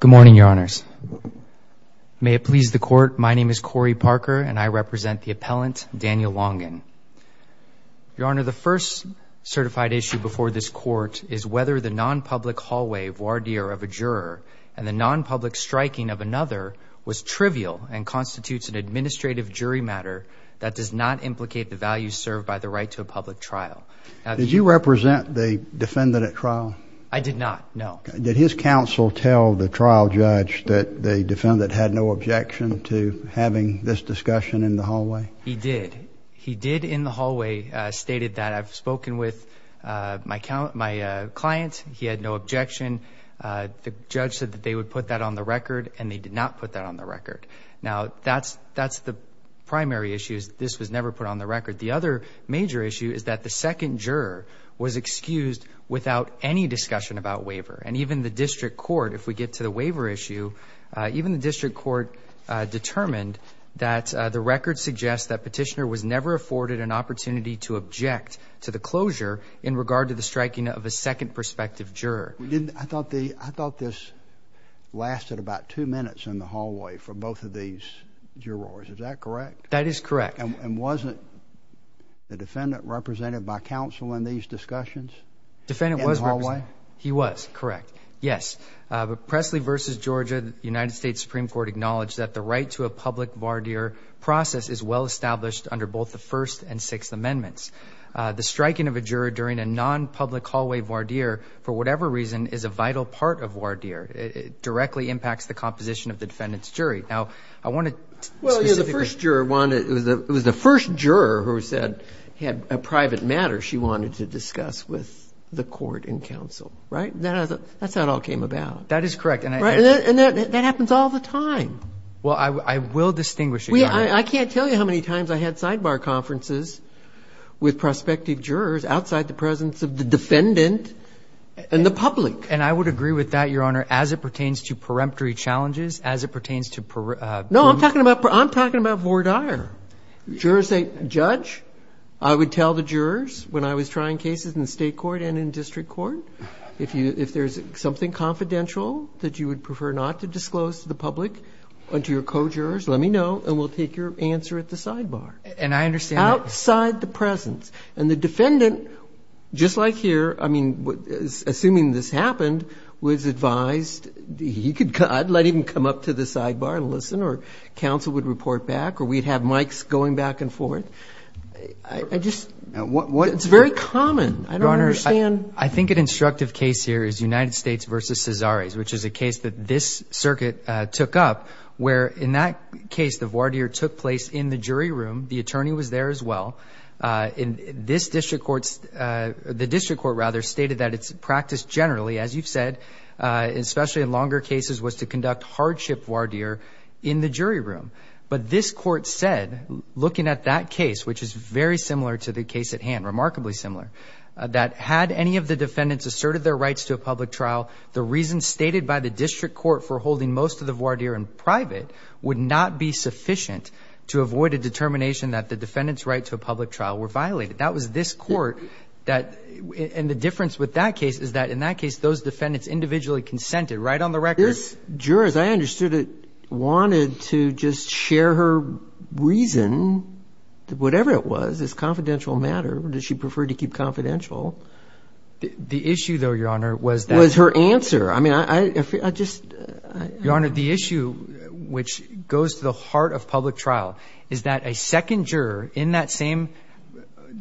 Good morning, Your Honors. May it please the Court, my name is Corey Parker, and I represent the appellant Daniel Longan. Your Honor, the first certified issue before this Court is whether the non-public hallway voir dire of a juror and the non-public striking of another was trivial and constitutes an administrative jury matter that does not implicate the values served by the right to a public trial. Did you represent the defendant at trial? I did not, no. Did his counsel tell the trial judge that the defendant had no objection to having this discussion in the hallway? He did. He did in the hallway stated that I've spoken with my client, he had no objection. The judge said that they would put that on the record, and they did not put that on the record. Now, that's the primary issue is that this was never put on the record. The other major issue is that the second juror was excused without any discussion about waiver. And even the district court, if we get to the waiver issue, even the district court determined that the record suggests that Petitioner was never afforded an opportunity to object to the closure in regard to the striking of a second prospective juror. I thought this lasted about two minutes in the hallway for both of these jurors. Is that correct? That is correct. And wasn't the defendant represented by counsel in these discussions? The defendant was represented. In the hallway? He was, correct. Yes. Presley v. Georgia, the United States Supreme Court acknowledged that the right to a public voir dire process is well established under both the First and Sixth Amendments. The striking of a juror during a non-public hallway voir dire, for whatever reason, is a vital part of voir dire. It directly impacts the composition of the defendant's jury. Now, I want to specifically Well, yeah, the first juror wanted, it was the first juror who said he had a private matter she wanted to discuss with the court and counsel, right? That's how it all came about. That is correct. And that happens all the time. Well, I will distinguish, Your Honor. I can't tell you how many times I had sidebar conferences with prospective jurors outside the presence of the defendant and the public. And I would agree with that, Your Honor, as it pertains to peremptory challenges, as it pertains to No, I'm talking about voir dire. Jurors say, Judge, I would tell the jurors when I was trying cases in the state court and in district court, if there's something confidential that you would prefer not to disclose to the public or to your co-jurors, let me know, and we'll take your answer at the sidebar. And I understand Outside the presence. And the defendant, just like here, I mean, assuming this happened, was advised he could, I'd let him come up to the sidebar and listen or counsel would report back or we'd have mics going back and forth. I just, it's very common. I don't understand. Your Honor, I think an instructive case here is United States v. Cesares, which is a case that this circuit took up where in that case the voir dire took place in the jury room. The attorney was there as well. And this district court, the district court rather, stated that its practice generally, as you've said, especially in longer cases, was to conduct hardship voir dire in the jury room. But this court said, looking at that case, which is very similar to the case at hand, remarkably similar, that had any of the defendants asserted their rights to a public trial, the reason stated by the district court for holding most of the voir dire in private would not be sufficient to avoid a public trial, were violated. That was this court that, and the difference with that case is that in that case those defendants individually consented. Right on the record. This juror, as I understood it, wanted to just share her reason, whatever it was. It's a confidential matter. Does she prefer to keep confidential? The issue, though, Your Honor, was that. Was her answer. I mean, I just. Your Honor, the issue which goes to the heart of public trial is that a second juror in that same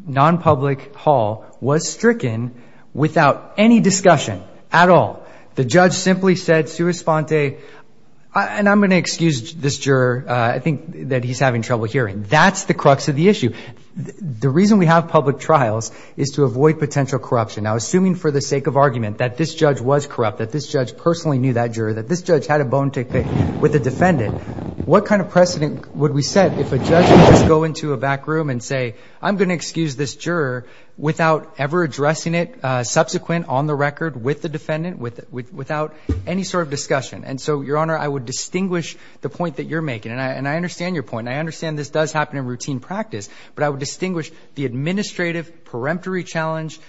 non-public hall was stricken without any discussion at all. The judge simply said, sua sponte, and I'm going to excuse this juror. I think that he's having trouble hearing. That's the crux of the issue. The reason we have public trials is to avoid potential corruption. Now, assuming for the sake of argument that this judge was corrupt, that this judge personally knew that juror, that this judge had a bone to pick with the defendant, what kind of precedent would we set if a judge would just go into a back room and say, I'm going to excuse this juror without ever addressing it subsequent on the record with the defendant, without any sort of discussion? And so, Your Honor, I would distinguish the point that you're making, and I understand your point, and I understand this does happen in routine practice, but I would distinguish the administrative, peremptory challenge,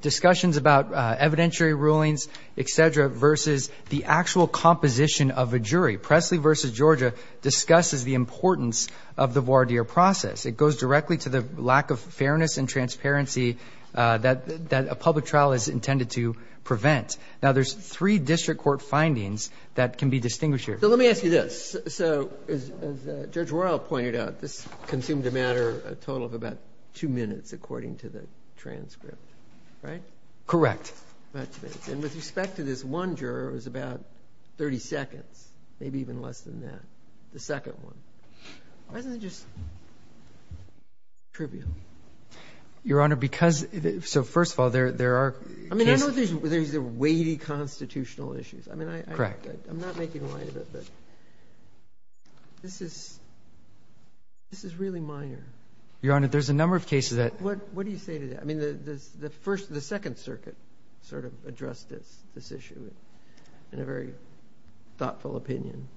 discussions about evidentiary rulings, et cetera, versus the actual composition of a jury. Presley v. Georgia discusses the importance of the voir dire process. It goes directly to the lack of fairness and transparency that a public trial is intended to prevent. Now, there's three district court findings that can be distinguished here. So let me ask you this. So as Judge Royal pointed out, this consumed a matter, a total of about two minutes, according to the transcript, right? Correct. And with respect to this one juror, it was about 30 seconds, maybe even less than that, the second one. Why isn't it just trivial? Your Honor, because so first of all, there are cases. I mean, I know there's the weighty constitutional issues. Correct. I'm not making light of it, but this is really minor. Your Honor, there's a number of cases that ---- What do you say to that? I mean, the Second Circuit sort of addressed this issue in a very thoughtful opinion.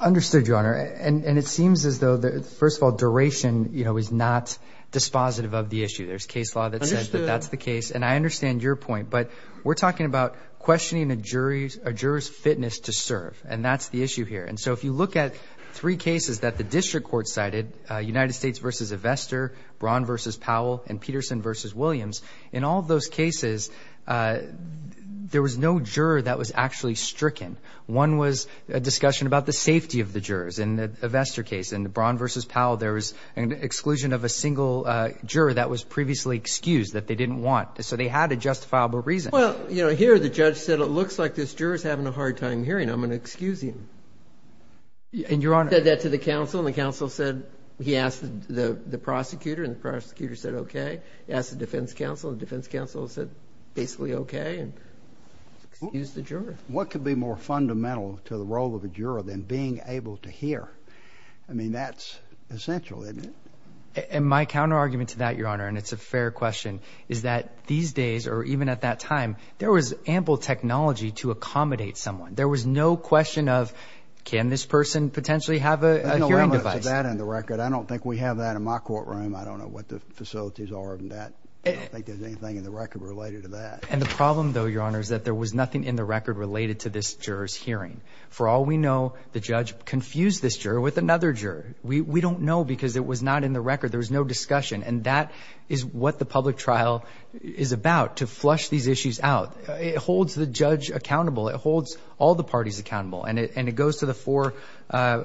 Understood, Your Honor, and it seems as though, first of all, duration is not dispositive of the issue. There's case law that says that that's the case, and I understand your point, but we're talking about questioning a juror's fitness to serve, and that's the issue here. And so if you look at three cases that the district court cited, United States v. Ivestor, Braun v. Powell, and Peterson v. Williams, in all of those cases, there was no juror that was actually stricken. One was a discussion about the safety of the jurors in the Ivestor case. In the Braun v. Powell, there was an exclusion of a single juror that was previously excused, that they didn't want. So they had a justifiable reason. Well, you know, here the judge said it looks like this juror is having a hard time hearing. I'm going to excuse him. And, Your Honor ---- He said that to the counsel, and the counsel said he asked the prosecutor, and the prosecutor said okay. He asked the defense counsel, and the defense counsel said basically okay, and excused the juror. What could be more fundamental to the role of a juror than being able to hear? I mean, that's essential, isn't it? And my counterargument to that, Your Honor, and it's a fair question, is that these days, or even at that time, there was ample technology to accommodate someone. There was no question of can this person potentially have a hearing device? There's no limit to that in the record. I don't think we have that in my courtroom. I don't know what the facilities are in that. I don't think there's anything in the record related to that. And the problem, though, Your Honor, is that there was nothing in the record related to this juror's hearing. For all we know, the judge confused this juror with another juror. We don't know because it was not in the record. There was no discussion. And that is what the public trial is about, to flush these issues out. It holds the judge accountable. It holds all the parties accountable. And it goes to the four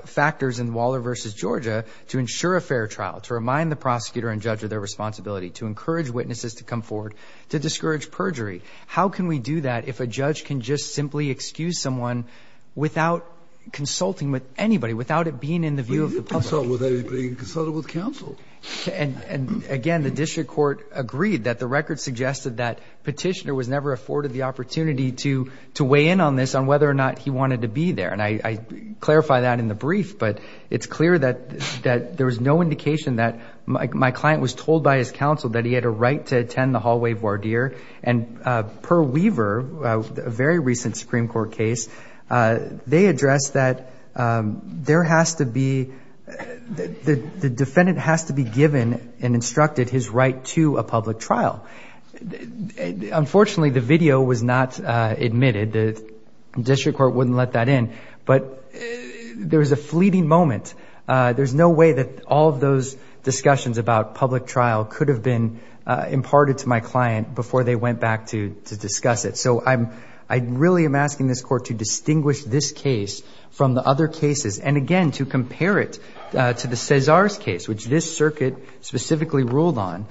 factors in Waller v. Georgia to ensure a fair trial, to remind the prosecutor and judge of their responsibility, to encourage witnesses to come forward, to discourage perjury. How can we do that if a judge can just simply excuse someone without consulting with anybody, without it being in the view of the public? Without being consulted with counsel. And, again, the district court agreed that the record suggested that Petitioner was never afforded the opportunity to weigh in on this on whether or not he wanted to be there. And I clarify that in the brief, but it's clear that there was no indication that my client was told by his counsel that he had a right to attend the hallway voir dire. And per Weaver, a very recent Supreme Court case, they addressed that there has to be, the defendant has to be given and instructed his right to a public trial. Unfortunately, the video was not admitted. The district court wouldn't let that in. But there was a fleeting moment. There's no way that all of those discussions about public trial could have been imparted to my client before they went back to discuss it. So I really am asking this court to distinguish this case from the other cases. And, again, to compare it to the Cesar's case, which this circuit specifically ruled on,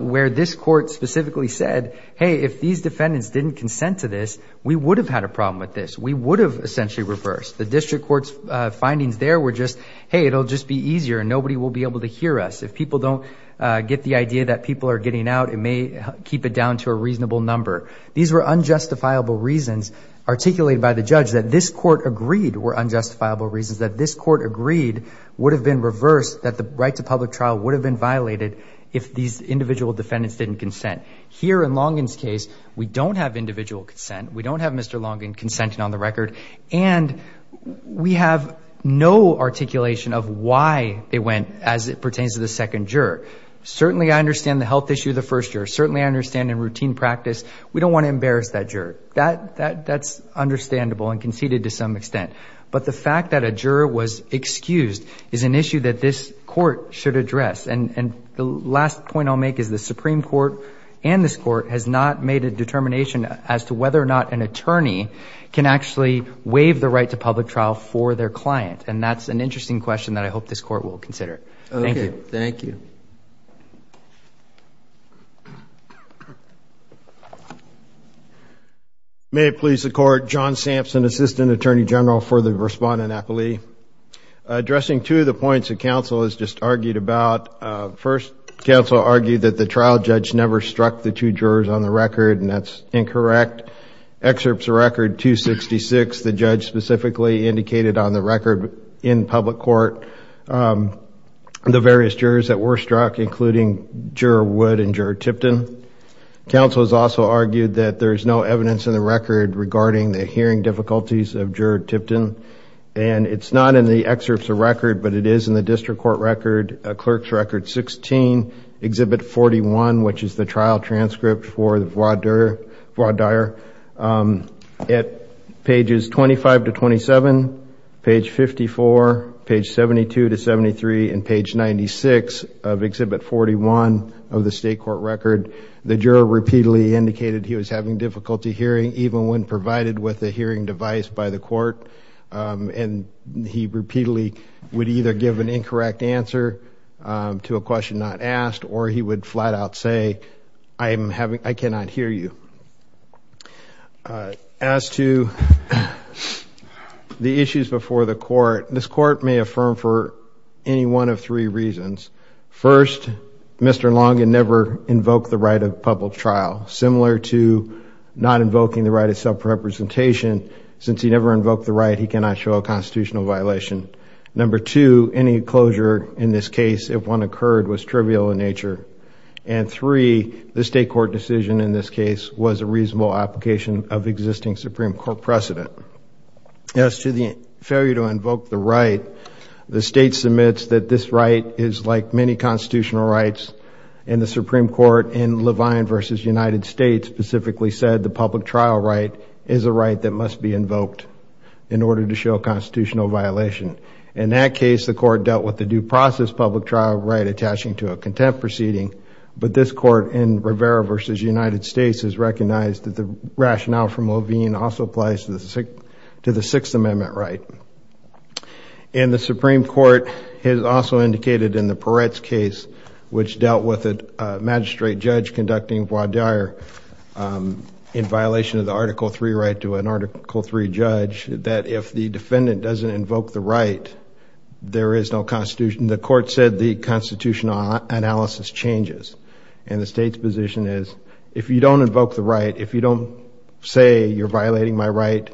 where this court specifically said, hey, if these defendants didn't consent to this, we would have had a problem with this. We would have essentially reversed. The district court's findings there were just, hey, it'll just be easier and nobody will be able to hear us. If people don't get the idea that people are getting out, it may keep it down to a reasonable number. These were unjustifiable reasons articulated by the judge that this court agreed were unjustifiable reasons, that this court agreed would have been reversed, that the right to public trial would have been violated if these individual defendants didn't consent. Here in Longin's case, we don't have individual consent. We don't have Mr. Longin consenting on the record. And we have no articulation of why they went as it pertains to the second juror. Certainly I understand the health issue of the first juror. Certainly I understand in routine practice. We don't want to embarrass that juror. That's understandable and conceded to some extent. But the fact that a juror was excused is an issue that this court should address. And the last point I'll make is the Supreme Court and this court has not made a determination as to whether or not an attorney can actually waive the right to public trial for their client. And that's an interesting question that I hope this court will consider. Thank you. Thank you. May it please the Court. John Sampson, Assistant Attorney General for the Respondent Appellee. Addressing two of the points that counsel has just argued about. First, counsel argued that the trial judge never struck the two jurors on the record. And that's incorrect. Excerpts of Record 266, the judge specifically indicated on the record in public court the various jurors that were struck, including Juror Wood and Juror Tipton. Counsel has also argued that there is no evidence in the record regarding the hearing difficulties of Juror Tipton. And it's not in the excerpts of Record, but it is in the District Court Record, Clerk's Record 16, Exhibit 41, which is the trial transcript for the voir dire. At pages 25 to 27, page 54, page 72 to 73, and page 96 of Exhibit 41 of the State Court Record, the juror repeatedly indicated he was having difficulty hearing, even when provided with a hearing device by the court. And he repeatedly would either give an incorrect answer to a question not asked, or he would flat out say, I cannot hear you. As to the issues before the court, this court may affirm for any one of three reasons. First, Mr. Longin never invoked the right of public trial, similar to not invoking the right of self-representation. Since he never invoked the right, he cannot show a constitutional violation. Number two, any closure in this case, if one occurred, was trivial in nature. And three, the State Court decision in this case was a reasonable application of existing Supreme Court precedent. As to the failure to invoke the right, the State submits that this right is like many constitutional rights. And the Supreme Court in Levine v. United States specifically said the public trial right is a right that must be invoked in order to show a constitutional violation. In that case, the court dealt with the due process public trial right attaching to a contempt proceeding. But this court in Rivera v. United States has recognized that the rationale from Levine also applies to the Sixth Amendment right. And the Supreme Court has also indicated in the Peretz case, which dealt with a magistrate judge conducting voir dire, in violation of the Article III right to an Article III judge, that if the defendant doesn't invoke the right, there is no constitution. The court said the constitutional analysis changes. And the State's position is, if you don't invoke the right, if you don't say you're violating my right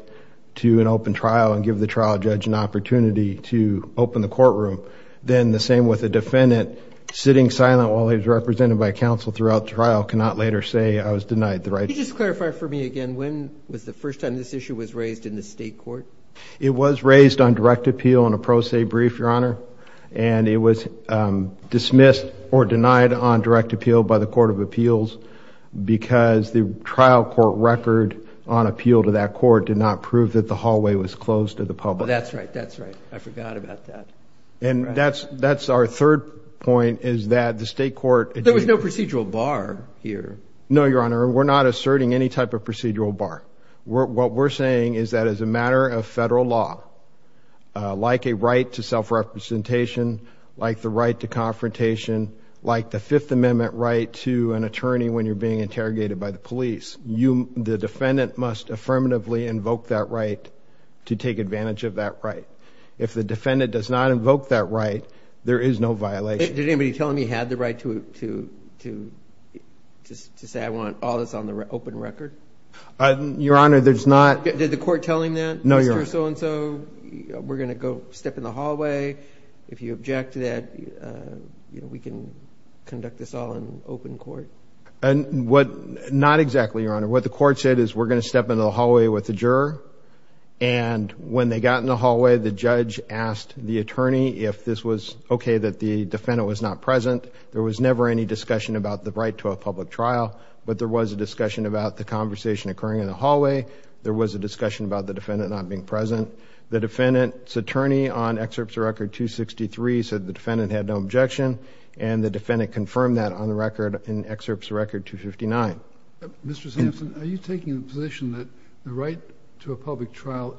to an open trial and give the trial judge an opportunity to open the courtroom, then the same with a defendant sitting silent while he's represented by counsel throughout the trial cannot later say I was denied the right. Could you just clarify for me again, when was the first time this issue was raised in the State Court? It was raised on direct appeal in a pro se brief, Your Honor. And it was dismissed or denied on direct appeal by the Court of Appeals because the trial court record on appeal to that court did not prove that the hallway was closed to the public. That's right. That's right. I forgot about that. And that's our third point, is that the State Court— There was no procedural bar here. No, Your Honor. We're not asserting any type of procedural bar. What we're saying is that as a matter of federal law, like a right to self-representation, like the right to confrontation, like the Fifth Amendment right to an attorney when you're being interrogated by the police, the defendant must affirmatively invoke that right to take advantage of that right. If the defendant does not invoke that right, there is no violation. Did anybody tell him he had the right to say I want all this on the open record? Your Honor, there's not— Did the court tell him that? No, Your Honor. Mr. So-and-so, we're going to go step in the hallway. If you object to that, we can conduct this all in open court. Not exactly, Your Honor. What the court said is we're going to step into the hallway with the juror, and when they got in the hallway, the judge asked the attorney if this was okay that the defendant was not present. There was never any discussion about the right to a public trial, but there was a discussion about the conversation occurring in the hallway. There was a discussion about the defendant not being present. The defendant's attorney on Excerpts of Record 263 said the defendant had no objection, and the defendant confirmed that on the record in Excerpts of Record 259. Mr. Sampson, are you taking the position that the right to a public trial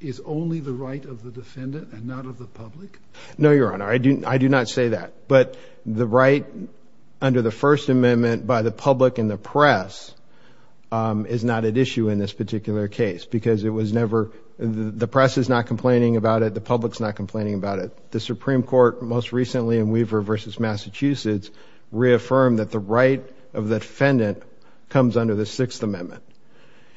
is only the right of the defendant and not of the public? No, Your Honor. I do not say that. But the right under the First Amendment by the public and the press is not at issue in this particular case because the press is not complaining about it, the public's not complaining about it. The Supreme Court most recently in Weaver v. Massachusetts reaffirmed that the right of the defendant comes under the Sixth Amendment.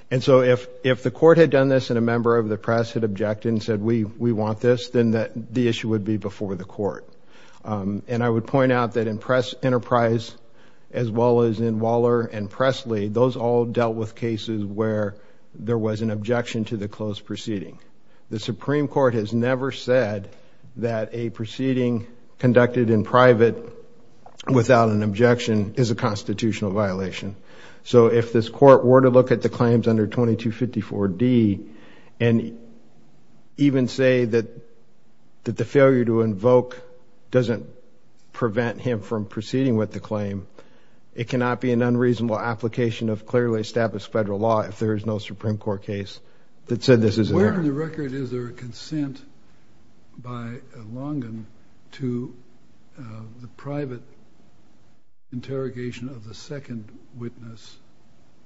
And so if the court had done this and a member of the press had objected and said, then the issue would be before the court. And I would point out that in Press Enterprise as well as in Waller and Presley, those all dealt with cases where there was an objection to the closed proceeding. The Supreme Court has never said that a proceeding conducted in private without an objection is a constitutional violation. So if this court were to look at the claims under 2254D and even say that the failure to invoke doesn't prevent him from proceeding with the claim, it cannot be an unreasonable application of clearly established federal law if there is no Supreme Court case that said this is an error. On the record, is there a consent by Longan to the private interrogation of the second witness,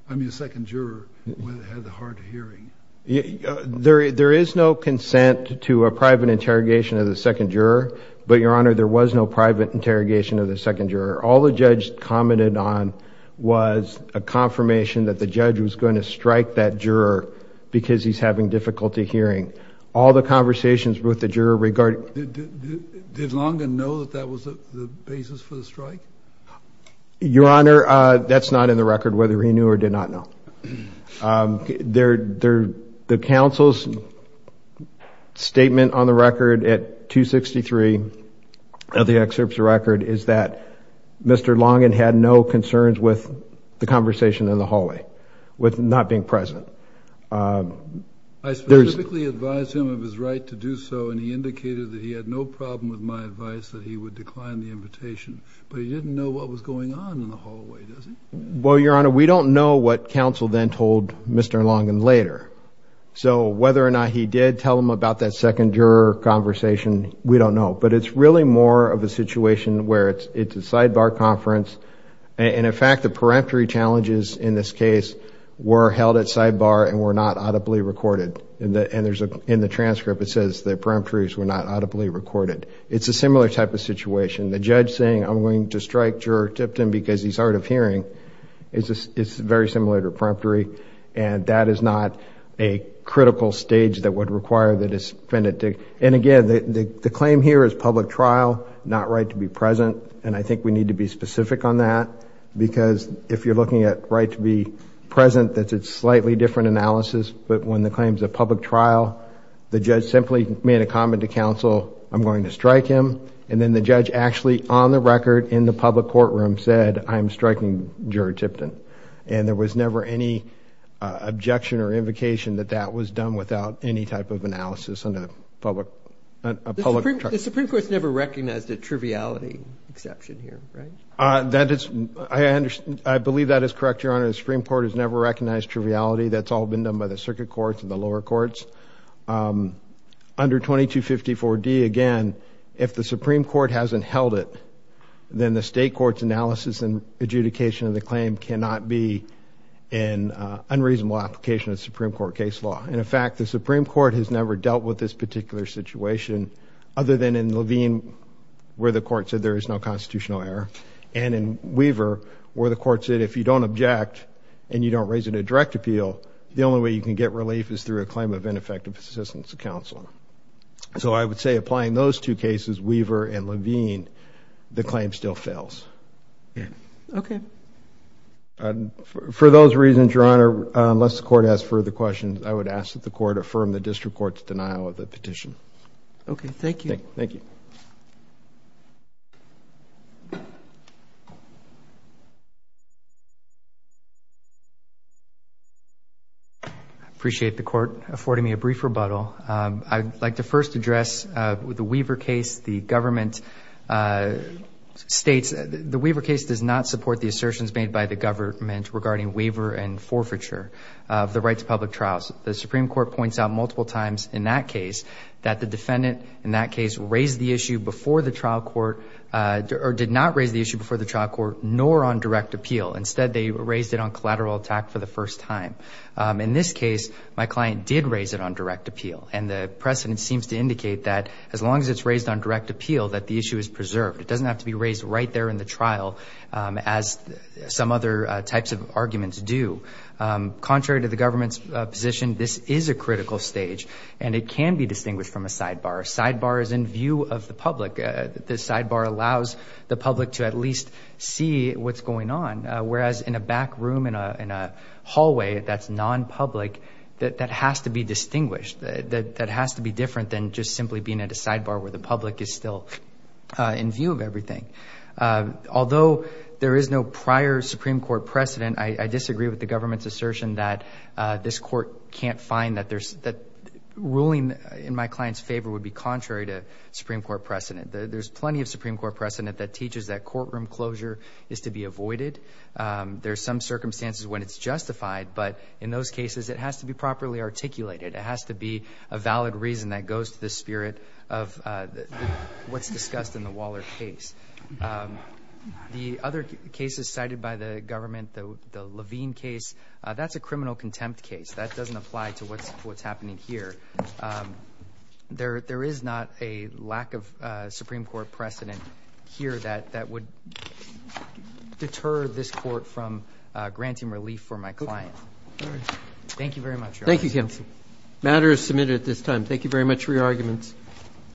I mean the second juror, who had the hard hearing? There is no consent to a private interrogation of the second juror, but, Your Honor, there was no private interrogation of the second juror. All the judge commented on was a confirmation that the judge was going to strike that juror because he's having difficulty hearing. All the conversations with the juror regarding... Did Longan know that that was the basis for the strike? Your Honor, that's not in the record whether he knew or did not know. The counsel's statement on the record at 263 of the excerpts of the record is that Mr. Longan had no concerns with the conversation in the hallway, with not being present. I specifically advised him of his right to do so, and he indicated that he had no problem with my advice that he would decline the invitation. But he didn't know what was going on in the hallway, does he? Well, Your Honor, we don't know what counsel then told Mr. Longan later. So whether or not he did tell him about that second juror conversation, we don't know. But it's really more of a situation where it's a sidebar conference, and in fact, the peremptory challenges in this case were held at sidebar and were not audibly recorded. In the transcript, it says the peremptories were not audibly recorded. It's a similar type of situation. The judge saying, I'm going to strike juror Tipton because he's hard of hearing, is very similar to a peremptory, and that is not a critical stage that would require the defendant to... And again, the claim here is public trial, not right to be present, and I think we need to be specific on that. Because if you're looking at right to be present, that's a slightly different analysis. But when the claim is a public trial, the judge simply made a comment to counsel, I'm going to strike him. And then the judge actually on the record in the public courtroom said, I'm striking juror Tipton. And there was never any objection or invocation that that was done without any type of analysis under a public... The Supreme Court's never recognized a triviality exception here, right? That is... I believe that is correct, Your Honor. The Supreme Court has never recognized triviality. That's all been done by the circuit courts and the lower courts. Under 2254D, again, if the Supreme Court hasn't held it, then the state court's analysis and adjudication of the claim cannot be in unreasonable application of the Supreme Court case law. And in fact, the Supreme Court has never dealt with this particular situation, other than in Levine, where the court said there is no constitutional error. And in Weaver, where the court said if you don't object and you don't raise it in a direct appeal, the only way you can get relief is through a claim of ineffective assistance to counsel. So, I would say applying those two cases, Weaver and Levine, the claim still fails. Okay. For those reasons, Your Honor, unless the court has further questions, I would ask that the court affirm the district court's denial of the petition. Okay, thank you. Thank you. Thank you. I appreciate the court affording me a brief rebuttal. I'd like to first address the Weaver case. The government states the Weaver case does not support the assertions made by the government regarding Weaver and forfeiture of the right to public trials. The Supreme Court points out multiple times in that case that the defendant in that case raised the issue before the trial court, or did not raise the issue before the trial court, nor on direct appeal. Instead, they raised it on collateral attack for the first time. In this case, my client did raise it on direct appeal. And the precedent seems to indicate that as long as it's raised on direct appeal, that the issue is preserved. It doesn't have to be raised right there in the trial, as some other types of arguments do. Contrary to the government's position, this is a critical stage, and it can be distinguished from a sidebar. A sidebar is in view of the public. The sidebar allows the public to at least see what's going on, whereas in a back room, in a hallway that's non-public, that has to be distinguished. That has to be different than just simply being at a sidebar where the public is still in view of everything. Although there is no prior Supreme Court precedent, I disagree with the government's assertion that this court can't find that there's— ruling in my client's favor would be contrary to Supreme Court precedent. There's plenty of Supreme Court precedent that teaches that courtroom closure is to be avoided. There are some circumstances when it's justified, but in those cases, it has to be properly articulated. It has to be a valid reason that goes to the spirit of what's discussed in the Waller case. The other cases cited by the government, the Levine case, that's a criminal contempt case. That doesn't apply to what's happening here. There is not a lack of Supreme Court precedent here that would deter this court from granting relief for my client. Thank you very much, Your Honor. Thank you, counsel. The matter is submitted at this time. Thank you very much for your arguments.